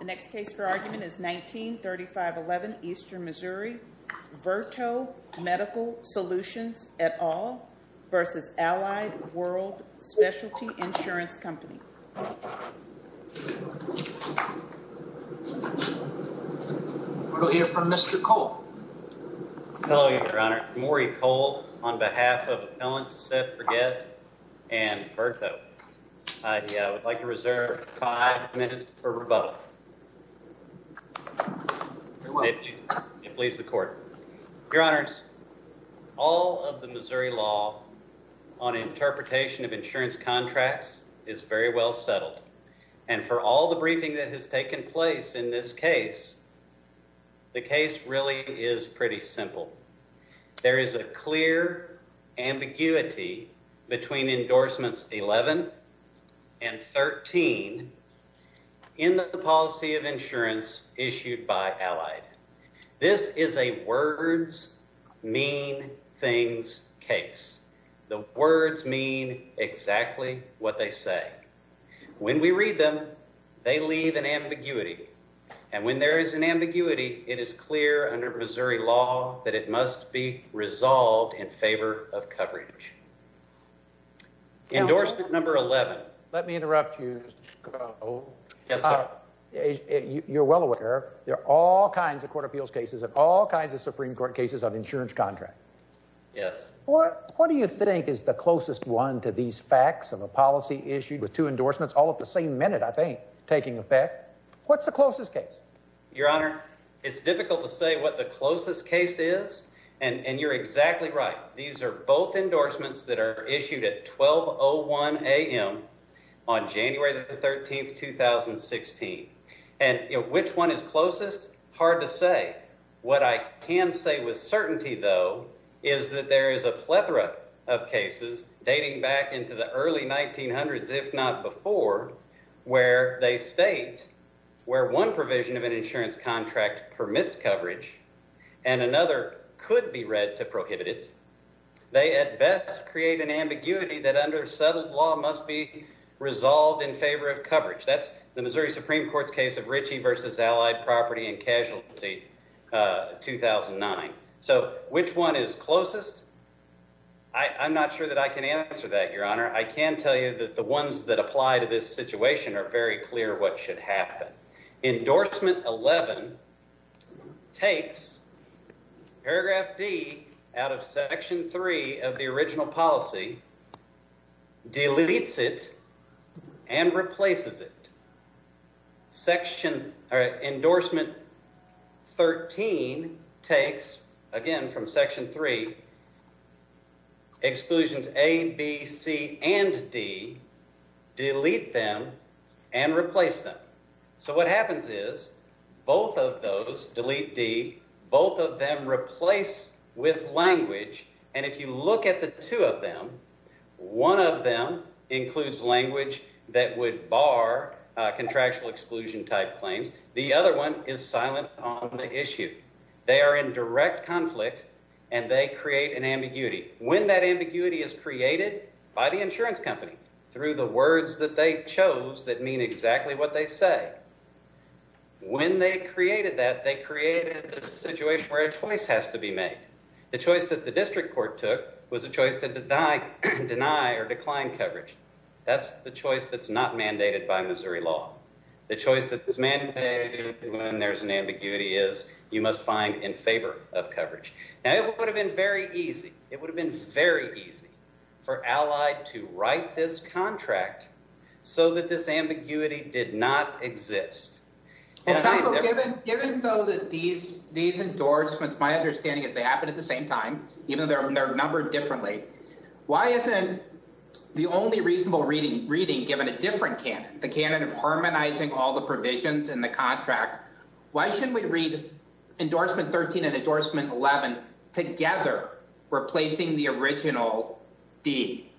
The next case for argument is 193511 Eastern Missouri, Verto Medical Solutions, et al. v. Allied World Specialty Insurance Company. We'll hear from Mr. Cole. Hello, Your Honor. I'm Maury Cole on behalf of Appellants Seth Bregette and Verto. I would like to reserve five minutes for rebuttal. If it pleases the Court. Your Honors, all of the Missouri law on interpretation of insurance contracts is very well settled. And for all the briefing that has taken place in this case, the case really is pretty simple. There is a clear ambiguity between endorsements 11 and 13 in the policy of insurance issued by Allied. This is a words mean things case. The words mean exactly what they say. When we read them, they leave an ambiguity. And when there is an ambiguity, it is clear under Missouri law that it must be resolved in favor of coverage. Endorsement number 11. Let me interrupt you, Mr. Cole. Yes, sir. You're well aware there are all kinds of court appeals cases and all kinds of Supreme Court cases on insurance contracts. Yes. What do you think is the closest one to these facts of a policy issued with two endorsements all at the same minute, I think, taking effect? What's the closest case? Your Honor, it's difficult to say what the closest case is, and you're exactly right. These are both endorsements that are issued at 12.01 a.m. on January the 13th, 2016. And which one is closest? Hard to say. What I can say with certainty, though, is that there is a plethora of cases dating back into the early 1900s, if not before, where they state where one provision of an insurance contract permits coverage and another could be read to prohibit it. They at best create an ambiguity that under settled law must be resolved in favor of coverage. That's the Missouri Supreme Court's case of Ritchie v. Allied Property and Casualty, 2009. So which one is closest? I'm not sure that I can answer that, Your Honor. I can tell you that the ones that apply to this situation are very clear what should happen. Endorsement 11 takes paragraph D out of Section 3 of the original policy, deletes it, and replaces it. Endorsement 13 takes, again, from Section 3, exclusions A, B, C, and D, delete them, and replace them. So what happens is both of those, delete D, both of them replace with language, and if you look at the two of them, one of them includes language that would bar contractual exclusion-type claims. The other one is silent on the issue. They are in direct conflict, and they create an ambiguity. When that ambiguity is created, by the insurance company, through the words that they chose that mean exactly what they say. When they created that, they created a situation where a choice has to be made. The choice that the district court took was a choice to deny or decline coverage. That's the choice that's not mandated by Missouri law. The choice that's mandated when there's an ambiguity is you must find in favor of coverage. Now, it would have been very easy. It would have been very easy for Allied to write this contract so that this ambiguity did not exist. Given, though, that these endorsements, my understanding is they happen at the same time, even though they're numbered differently. Why isn't the only reasonable reading given a different canon, the canon of harmonizing all the provisions in the contract? Why shouldn't we read endorsement 13 and endorsement 11 together, replacing the original D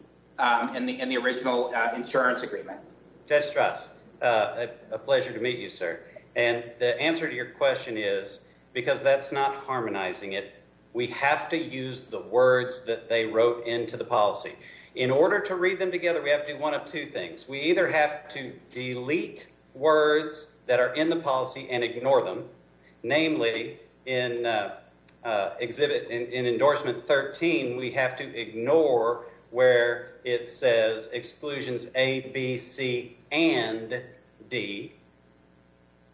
in the original insurance agreement? Judge Strass, a pleasure to meet you, sir. And the answer to your question is because that's not harmonizing it, we have to use the words that they wrote into the policy. In order to read them together, we have to do one of two things. We either have to delete words that are in the policy and ignore them. Namely, in endorsement 13, we have to ignore where it says exclusions A, B, C, and D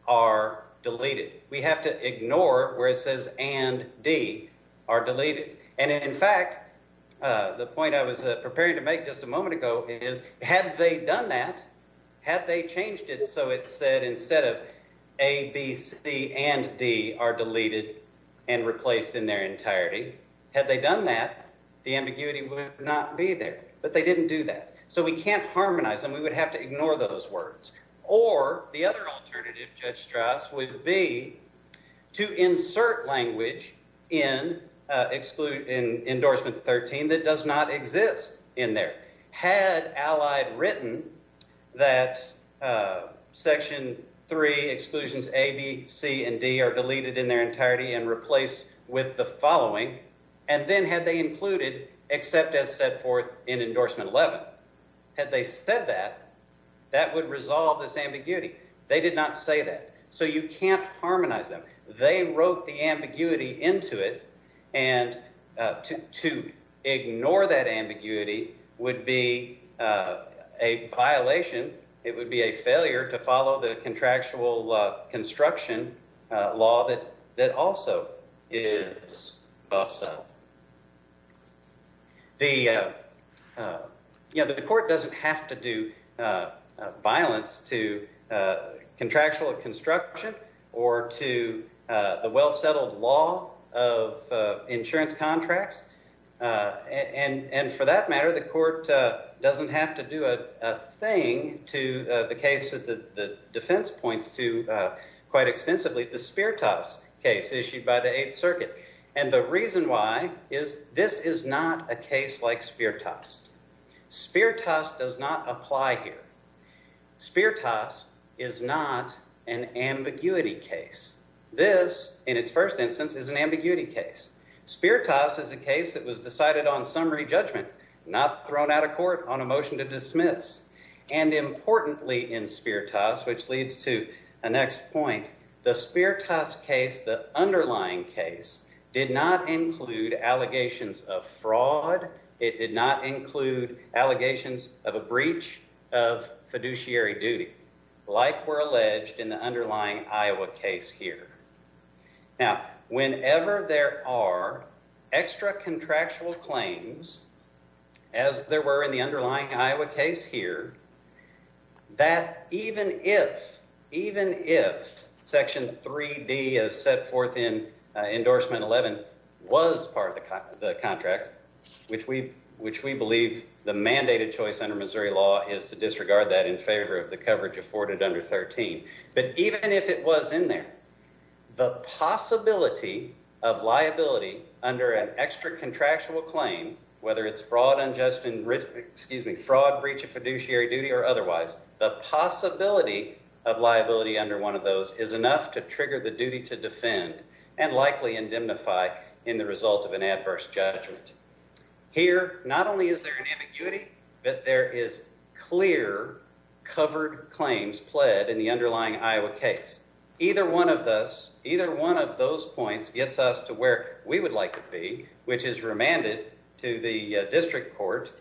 are deleted. We have to ignore where it says and D are deleted. And in fact, the point I was preparing to make just a moment ago is had they done that, had they changed it so it said instead of A, B, C, and D, are deleted and replaced in their entirety, had they done that, the ambiguity would not be there. But they didn't do that. So we can't harmonize them. We would have to ignore those words. Or the other alternative, Judge Strass, would be to insert language in endorsement 13 that does not exist in there. Had Allied written that section 3, exclusions A, B, C, and D are deleted in their entirety and replaced with the following, and then had they included except as set forth in endorsement 11, had they said that, that would resolve this ambiguity. They did not say that. So you can't harmonize them. They wrote the ambiguity into it. And to ignore that ambiguity would be a violation. It would be a failure to follow the contractual construction law that also is bust up. The court doesn't have to do violence to contractual construction or to the well-settled law of insurance contracts. And for that matter, the court doesn't have to do a thing to the case that the defense points to quite extensively, the Spiritas case issued by the Eighth Circuit. And the reason why is this is not a case like Spiritas. Spiritas does not apply here. Spiritas is not an ambiguity case. This, in its first instance, is an ambiguity case. Spiritas is a case that was decided on summary judgment, not thrown out of court on a motion to dismiss. And importantly in Spiritas, which leads to the next point, the Spiritas case, the underlying case, did not include allegations of fraud. It did not include allegations of a breach of fiduciary duty, like were alleged in the underlying Iowa case here. Now, whenever there are extra contractual claims, as there were in the underlying Iowa case here, that even if Section 3D as set forth in Endorsement 11 was part of the contract, which we believe the mandated choice under Missouri law is to disregard that in favor of the coverage afforded under 13, but even if it was in there, the possibility of liability under an extra contractual claim, whether it's fraud, breach of fiduciary duty or otherwise, the possibility of liability under one of those is enough to trigger the duty to defend and likely indemnify in the result of an adverse judgment. Here, not only is there an ambiguity, but there is clear covered claims pled in the underlying Iowa case. Either one of those points gets us to where we would like to be, which is remanded to the district court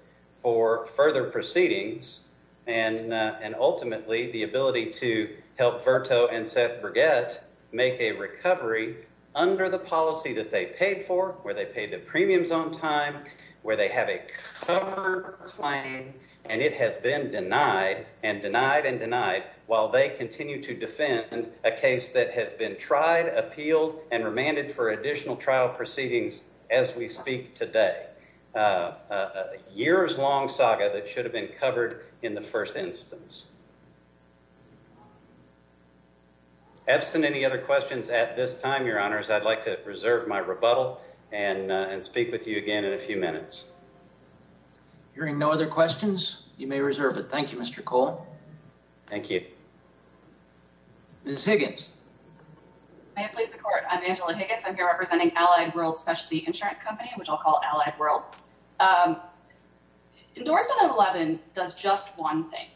for further proceedings and ultimately the ability to help Virto and Seth Burgett make a recovery under the policy that they paid for, where they paid the premiums on time, where they have a covered claim, and it has been denied and denied and denied while they continue to defend a case that has been tried, appealed and remanded for additional trial proceedings as we speak today. A years-long saga that should have been covered in the first instance. Epstein, any other questions at this time? Your honors, I'd like to reserve my rebuttal and speak with you again in a few minutes. Hearing no other questions, you may reserve it. Thank you, Mr. Cole. Thank you. Ms. Higgins. May it please the court. I'm Angela Higgins. I'm here representing Allied World Specialty Insurance Company, which I'll call Allied World. Endorsement 11 does just one thing.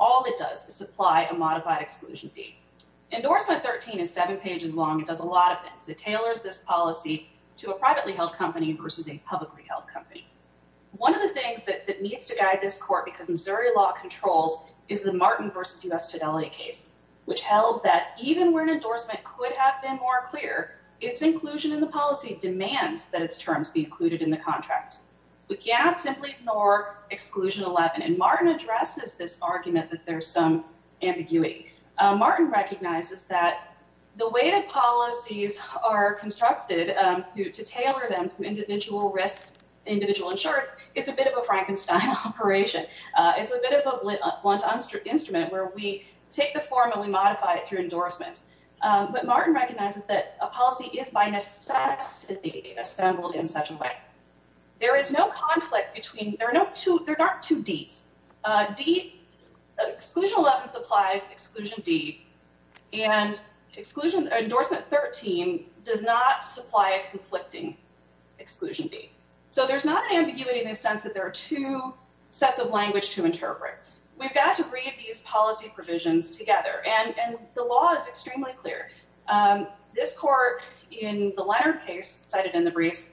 All it does is supply a modified exclusion fee. Endorsement 13 is seven pages long. It does a lot of things. It tailors this policy to a privately held company versus a publicly held company. One of the things that needs to guide this court because Missouri law controls is the Martin versus U.S. Fidelity case, which held that even where an endorsement could have been more clear, its inclusion in the policy demands that its terms be included in the contract. We cannot simply ignore Exclusion 11. And Martin addresses this argument that there's some ambiguity. Martin recognizes that the way that policies are constructed to tailor them to individual risks, individual insurance, is a bit of a Frankenstein operation. It's a bit of a blunt instrument where we take the form and we modify it through endorsements. But Martin recognizes that a policy is by necessity assembled in such a way. There is no conflict between, there are no two, there aren't two Ds. D, Exclusion 11 supplies Exclusion D. And Exclusion, Endorsement 13 does not supply a conflicting Exclusion D. So there's not an ambiguity in the sense that there are two sets of language to interpret. We've got to read these policy provisions together. And the law is extremely clear. This court, in the Leonard case cited in the briefs,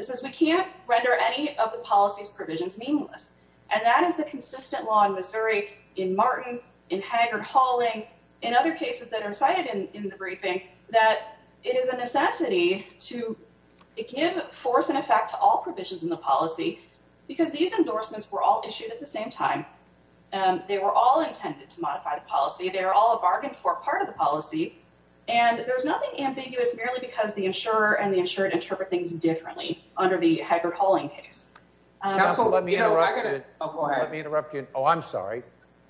says we can't render any of the policy's provisions meaningless. And that is the consistent law in Missouri, in Martin, in Haggard-Halling, in other cases that are cited in the briefing, that it is a necessity to give force and effect to all provisions in the policy, because these endorsements were all issued at the same time. They were all intended to modify the policy. They were all a bargain for part of the policy. And there's nothing ambiguous merely because the insurer and the insured interpret things differently under the Haggard-Halling case. Counsel, you know, I got to go ahead. Let me interrupt you. Oh, I'm sorry.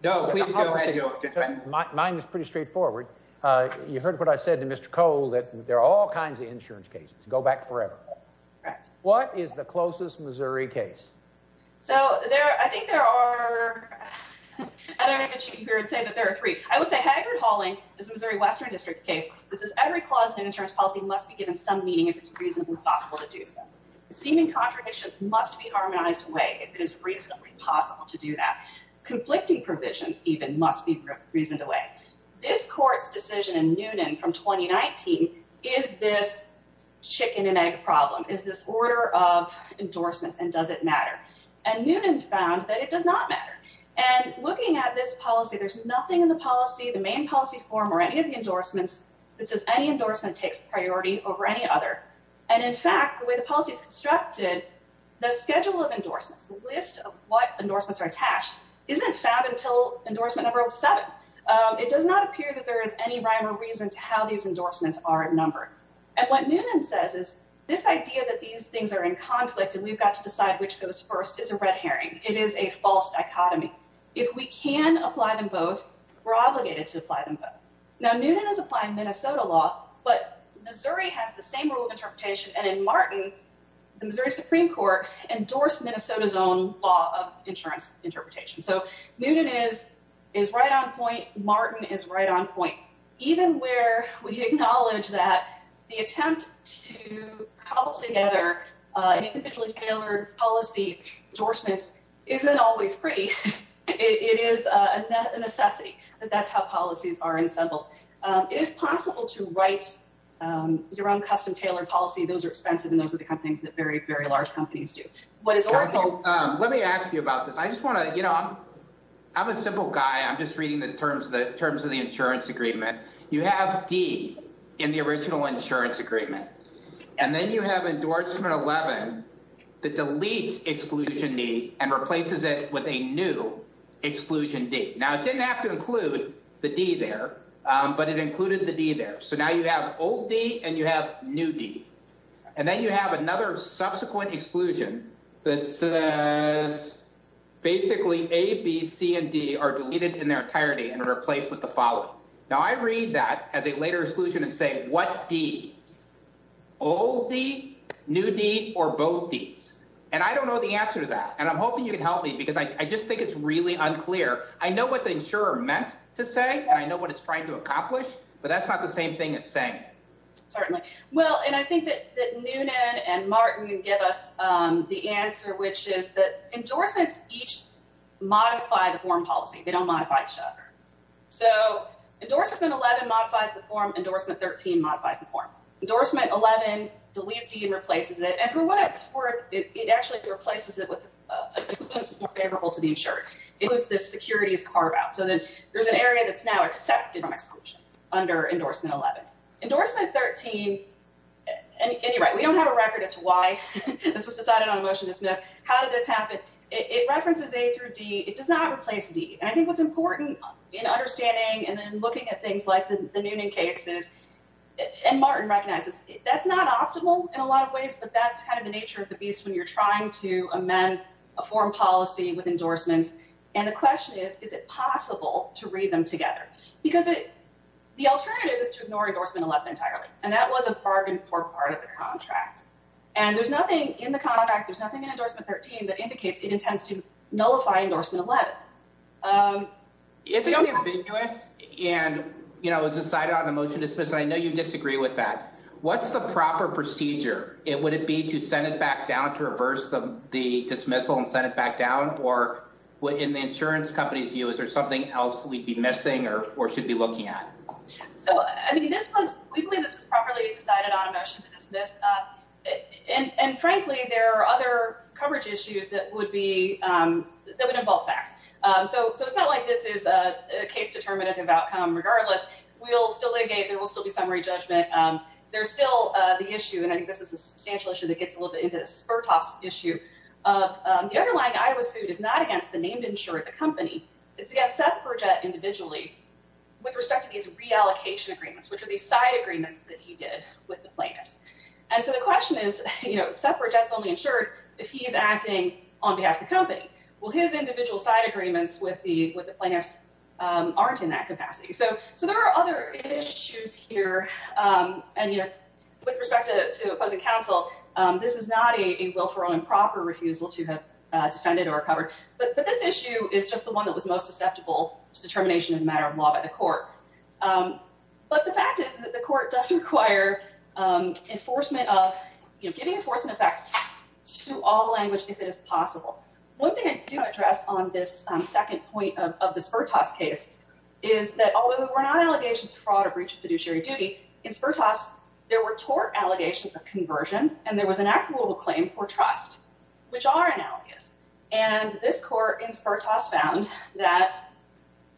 No, please go ahead. Mine is pretty straightforward. You heard what I said to Mr. Cole, that there are all kinds of insurance cases. Go back forever. Right. What is the closest Missouri case? So I think there are—I don't know if I can cheat here and say that there are three. I would say Haggard-Halling is a Missouri Western District case. This is every clause in an insurance policy must be given some meaning if it's reasonably possible to do so. Seeming contradictions must be harmonized away if it is reasonably possible to do that. Conflicting provisions even must be reasoned away. This court's decision in Noonan from 2019 is this chicken-and-egg problem, is this order of endorsements, and does it matter? And Noonan found that it does not matter. And looking at this policy, there's nothing in the policy, the main policy form, or any of the endorsements that says any endorsement takes priority over any other. And, in fact, the way the policy is constructed, the schedule of endorsements, the list of what endorsements are attached, isn't found until endorsement number seven. It does not appear that there is any rhyme or reason to how these endorsements are numbered. And what Noonan says is this idea that these things are in conflict and we've got to decide which goes first is a red herring. It is a false dichotomy. If we can apply them both, we're obligated to apply them both. Now, Noonan is applying Minnesota law, but Missouri has the same rule of interpretation. And in Martin, the Missouri Supreme Court endorsed Minnesota's own law of insurance interpretation. So Noonan is right on point. Martin is right on point. Even where we acknowledge that the attempt to cobble together an individually tailored policy endorsement isn't always pretty, it is a necessity. That's how policies are assembled. It is possible to write your own custom-tailored policy. Those are expensive, and those are the kind of things that very, very large companies do. Council, let me ask you about this. I just want to, you know, I'm a simple guy. I'm just reading the terms of the insurance agreement. You have D in the original insurance agreement, and then you have endorsement 11 that deletes exclusion D and replaces it with a new exclusion D. Now, it didn't have to include the D there, but it included the D there. So now you have old D and you have new D. And then you have another subsequent exclusion that says basically A, B, C, and D are deleted in their entirety and replaced with the following. Now, I read that as a later exclusion and say what D? Old D, new D, or both Ds? And I don't know the answer to that, and I'm hoping you can help me because I just think it's really unclear. I know what the insurer meant to say, and I know what it's trying to accomplish, but that's not the same thing as saying it. Certainly. Well, and I think that Noonan and Martin give us the answer, which is that endorsements each modify the form policy. They don't modify each other. So endorsement 11 modifies the form. Endorsement 13 modifies the form. Endorsement 11 deletes D and replaces it. And for what it's worth, it actually replaces it with an exclusion that's more favorable to the insurer. It includes the securities carve out. So there's an area that's now accepted from exclusion under endorsement 11. Endorsement 13, anyway, we don't have a record as to why this was decided on a motion to dismiss. How did this happen? It references A through D. It does not replace D. And I think what's important in understanding and then looking at things like the Noonan cases, and Martin recognizes, that's not optimal in a lot of ways, but that's kind of the nature of the beast when you're trying to amend a form policy with endorsements. And the question is, is it possible to read them together? Because the alternative is to ignore endorsement 11 entirely. And that was a bargain for part of the contract. And there's nothing in the contract, there's nothing in endorsement 13 that indicates it intends to nullify endorsement 11. It's ambiguous and, you know, it was decided on a motion to dismiss, and I know you disagree with that. What's the proper procedure? Would it be to send it back down to reverse the dismissal and send it back down? Or in the insurance company's view, is there something else we'd be missing or should be looking at? So, I mean, we believe this was properly decided on a motion to dismiss. And, frankly, there are other coverage issues that would involve FACTS. So it's not like this is a case-determinative outcome. Regardless, we'll still litigate, there will still be summary judgment. There's still the issue, and I think this is a substantial issue that gets a little bit into the spur-toss issue, of the underlying Iowa suit is not against the named insurer of the company. It's against Seth Burgett individually with respect to these reallocation agreements, which are these side agreements that he did with the plaintiffs. And so the question is, you know, Seth Burgett's only insured if he's acting on behalf of the company. Well, his individual side agreements with the plaintiffs aren't in that capacity. So there are other issues here. And, you know, with respect to opposing counsel, this is not a willful or improper refusal to have defended or covered. But this issue is just the one that was most susceptible to determination as a matter of law by the court. But the fact is that the court does require enforcement of, you know, giving enforcement of FACTS to all language if it is possible. One thing I do want to address on this second point of the spur-toss case is that, although there were not allegations of fraud or breach of fiduciary duty, in spur-toss, there were tort allegations of conversion and there was an acquittal claim for trust, which are analogous. And this court in spur-toss found that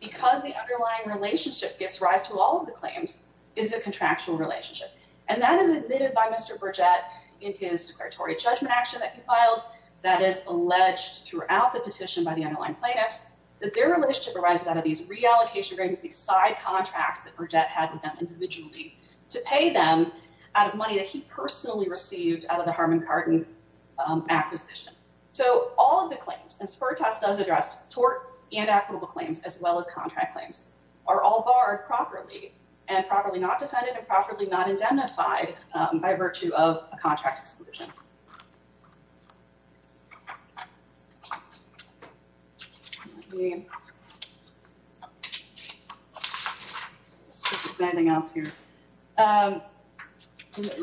because the underlying relationship gives rise to all of the claims, is a contractual relationship. And that is admitted by Mr. Burgett in his declaratory judgment action that he filed. That is alleged throughout the petition by the underlying plaintiffs that their relationship arises out of these reallocation agreements, these side contracts that Burgett had with them individually, to pay them out of money that he personally received out of the Harmon-Carton acquisition. So all of the claims, and spur-toss does address tort and equitable claims as well as contract claims, are all barred properly and properly not defended and properly not identified by virtue of a contract exclusion. Let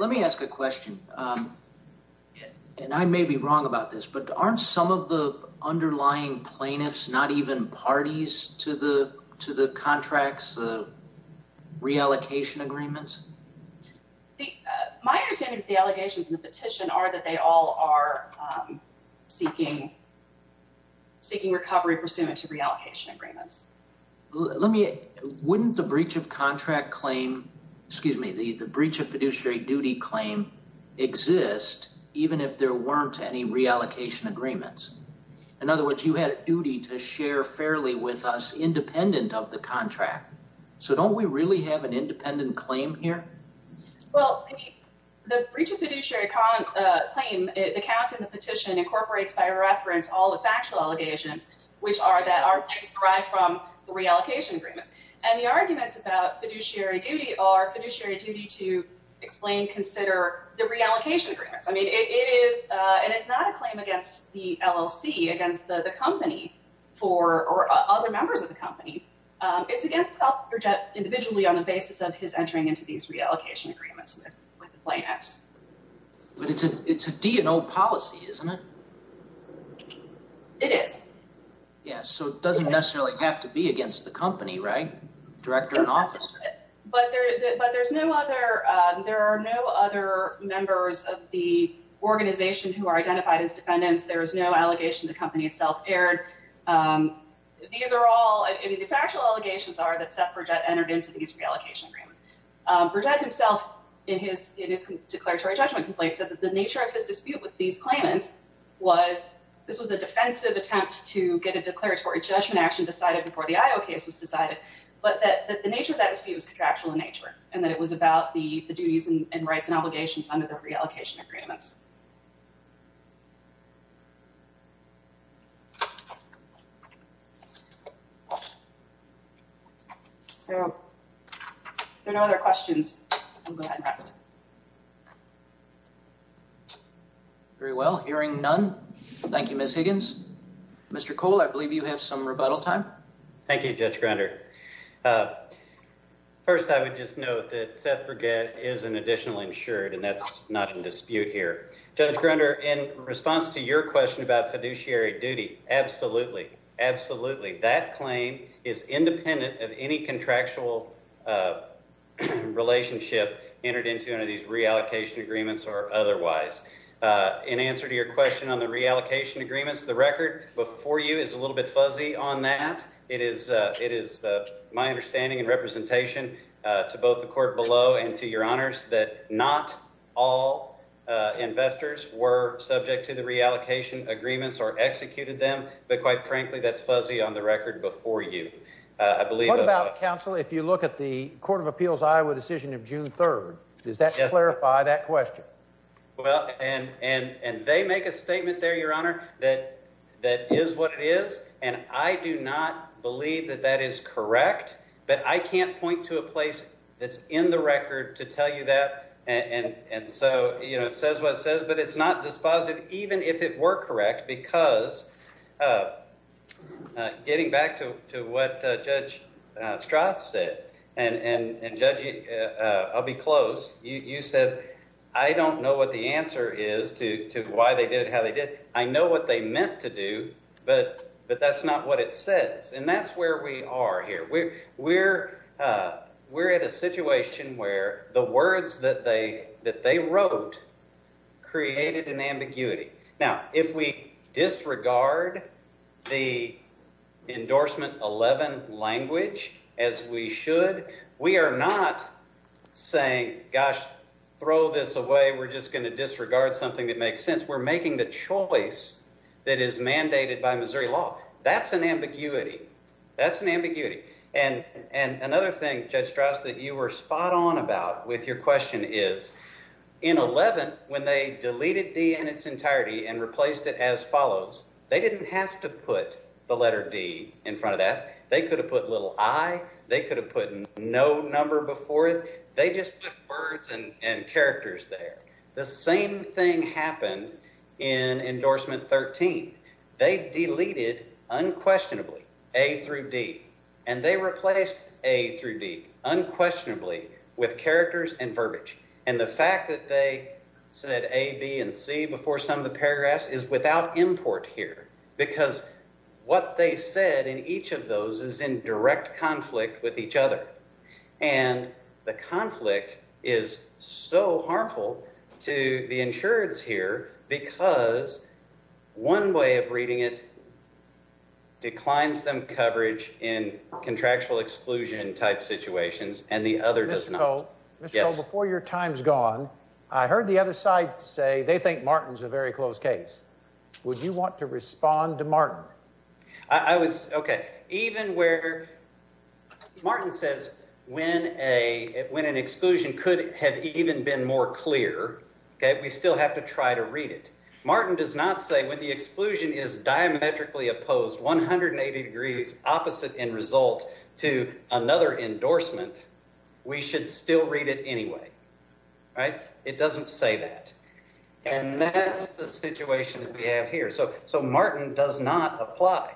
me ask a question, and I may be wrong about this, but aren't some of the underlying plaintiffs not even parties to the contracts, the reallocation agreements? My understanding is the allegations in the petition are that they all are seeking recovery pursuant to reallocation agreements. Wouldn't the breach of contract claim, excuse me, the breach of fiduciary duty claim, exist even if there weren't any reallocation agreements? In other words, you had a duty to share fairly with us independent of the contract. So don't we really have an independent claim here? Well, the breach of fiduciary claim, the count in the petition incorporates by reference all the factual allegations, which are that our claims derive from the reallocation agreements. And the arguments about fiduciary duty are fiduciary duty to explain, consider the reallocation agreements. I mean, it is, and it's not a claim against the LLC, against the company or other members of the company. It's against Dr. Jett individually on the basis of his entering into these reallocation agreements with the plaintiffs. But it's a D&O policy, isn't it? It is. Yeah, so it doesn't necessarily have to be against the company, right? Director and officer. But there's no other, there are no other members of the organization who are identified as defendants. There is no allegation the company itself erred. These are all, I mean, the factual allegations are that Seth Burgett entered into these reallocation agreements. Burgett himself in his declaratory judgment complaint said that the nature of his dispute with these claimants was, this was a defensive attempt to get a declaratory judgment action decided before the IO case was decided, but that the nature of that dispute was contractual in nature, and that it was about the duties and rights and obligations under the reallocation agreements. So if there are no other questions, I'll go ahead and rest. Very well, hearing none. Thank you, Ms. Higgins. Mr. Cole, I believe you have some rebuttal time. Thank you, Judge Grunder. First, I would just note that Seth Burgett is an additional insured, and that's not in dispute here. Judge Grunder, in response to your question about fiduciary duty, absolutely, absolutely. That claim is independent of any contractual relationship entered into under these reallocation agreements or otherwise. In answer to your question on the reallocation agreements, the record before you is a little bit fuzzy on that. It is my understanding and representation to both the court below and to your honors that not all investors were subject to the reallocation agreements or executed them, but quite frankly, that's fuzzy on the record before you. What about, counsel, if you look at the Court of Appeals Iowa decision of June 3rd? Does that clarify that question? Well, and they make a statement there, your honor, that is what it is, and I do not believe that that is correct, but I can't point to a place that's in the record to tell you that, and so it says what it says, but it's not dispositive even if it were correct because getting back to what Judge Strass said, and Judge, I'll be close, you said, I don't know what the answer is to why they did it, how they did it. I know what they meant to do, but that's not what it says, and that's where we are here. We're at a situation where the words that they wrote created an ambiguity. Now, if we disregard the endorsement 11 language as we should, we are not saying, gosh, throw this away, we're just going to disregard something that makes sense. We're making the choice that is mandated by Missouri law. That's an ambiguity. That's an ambiguity, and another thing, Judge Strass, that you were spot on about with your question is in 11, when they deleted D in its entirety and replaced it as follows, they didn't have to put the letter D in front of that. They could have put little i. They could have put no number before it. They just put words and characters there. The same thing happened in endorsement 13. They deleted unquestionably A through D, and they replaced A through D unquestionably with characters and verbiage, and the fact that they said A, B, and C before some of the paragraphs is without import here because what they said in each of those is in direct conflict with each other, and the conflict is so harmful to the insurance here because one way of reading it declines them coverage in contractual exclusion type situations, and the other does not. Mr. Coe, before your time's gone, I heard the other side say they think Martin's a very close case. Okay, even where Martin says when an exclusion could have even been more clear, we still have to try to read it. Martin does not say when the exclusion is diametrically opposed, 180 degrees opposite in result to another endorsement, we should still read it anyway. It doesn't say that, and that's the situation that we have here. So Martin does not apply.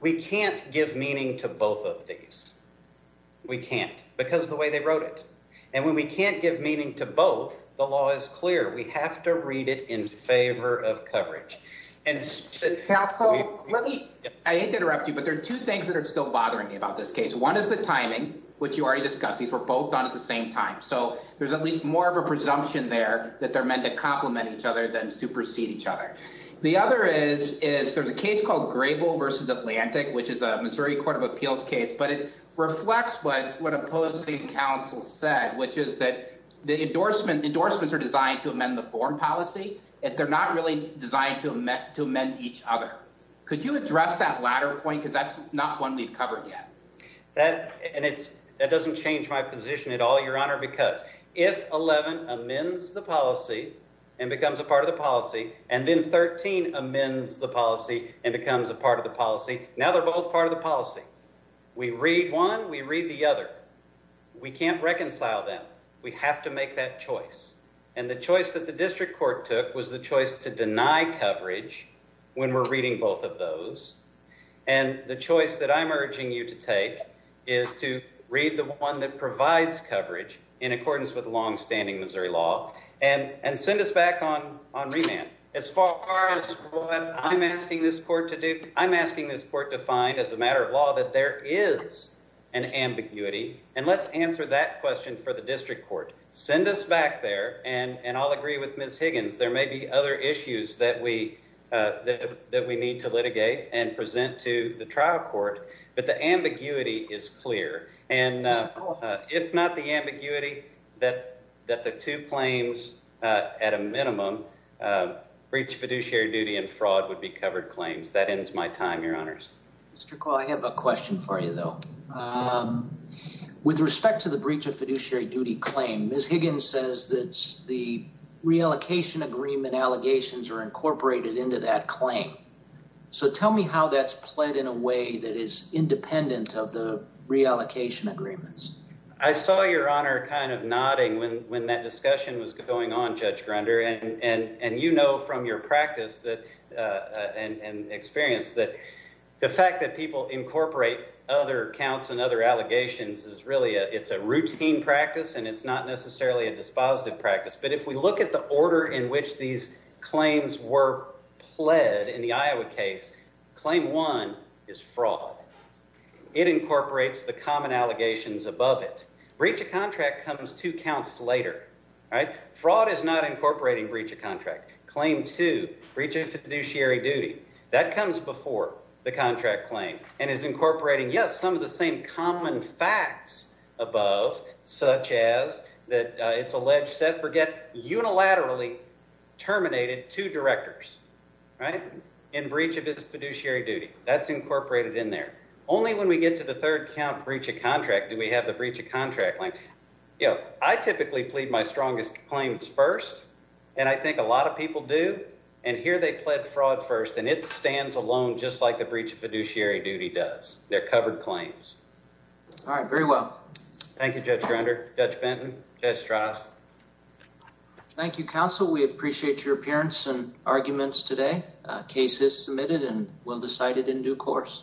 We can't give meaning to both of these. We can't because the way they wrote it, and when we can't give meaning to both, the law is clear. We have to read it in favor of coverage. Counsel, let me – I hate to interrupt you, but there are two things that are still bothering me about this case. One is the timing, which you already discussed. These were both done at the same time, so there's at least more of a presumption there that they're meant to complement each other than supersede each other. The other is there's a case called Grable v. Atlantic, which is a Missouri court of appeals case, but it reflects what opposing counsel said, which is that the endorsements are designed to amend the foreign policy, and they're not really designed to amend each other. Could you address that latter point because that's not one we've covered yet? That doesn't change my position at all, Your Honor, because if 11 amends the policy and becomes a part of the policy and then 13 amends the policy and becomes a part of the policy, now they're both part of the policy. We read one, we read the other. We can't reconcile them. We have to make that choice, and the choice that the district court took was the choice to deny coverage when we're reading both of those, and the choice that I'm urging you to take is to read the one that provides coverage in accordance with longstanding Missouri law and send us back on remand. As far as what I'm asking this court to do, I'm asking this court to find, as a matter of law, that there is an ambiguity, and let's answer that question for the district court. Send us back there, and I'll agree with Ms. Higgins. There may be other issues that we need to litigate and present to the trial court, but the ambiguity is clear, and if not the ambiguity that the two claims at a minimum, breach of fiduciary duty and fraud, would be covered claims. That ends my time, Your Honors. Mr. Call, I have a question for you, though. With respect to the breach of fiduciary duty claim, Ms. Higgins says that the reallocation agreement allegations are incorporated into that claim. So tell me how that's played in a way that is independent of the reallocation agreements. I saw Your Honor kind of nodding when that discussion was going on, Judge Grunder, and you know from your practice and experience that the fact that people incorporate other counts and other allegations is really a routine practice, and it's not necessarily a dispositive practice, but if we look at the order in which these claims were pled in the Iowa case, claim one is fraud. It incorporates the common allegations above it. Breach of contract comes two counts later. Fraud is not incorporating breach of contract. Claim two, breach of fiduciary duty, that comes before the contract claim and is incorporating, yes, some of the same common facts above, such as that it's alleged Seth Burgett unilaterally terminated two directors in breach of his fiduciary duty. That's incorporated in there. Only when we get to the third count, breach of contract, do we have the breach of contract claim. I typically plead my strongest claims first, and I think a lot of people do, and here they pled fraud first, and it stands alone just like the breach of fiduciary duty does. They're covered claims. All right. Very well. Thank you, Judge Grunder, Judge Benton, Judge Strauss. Thank you, counsel. We appreciate your appearance and arguments today. Case is submitted and will be decided in due course.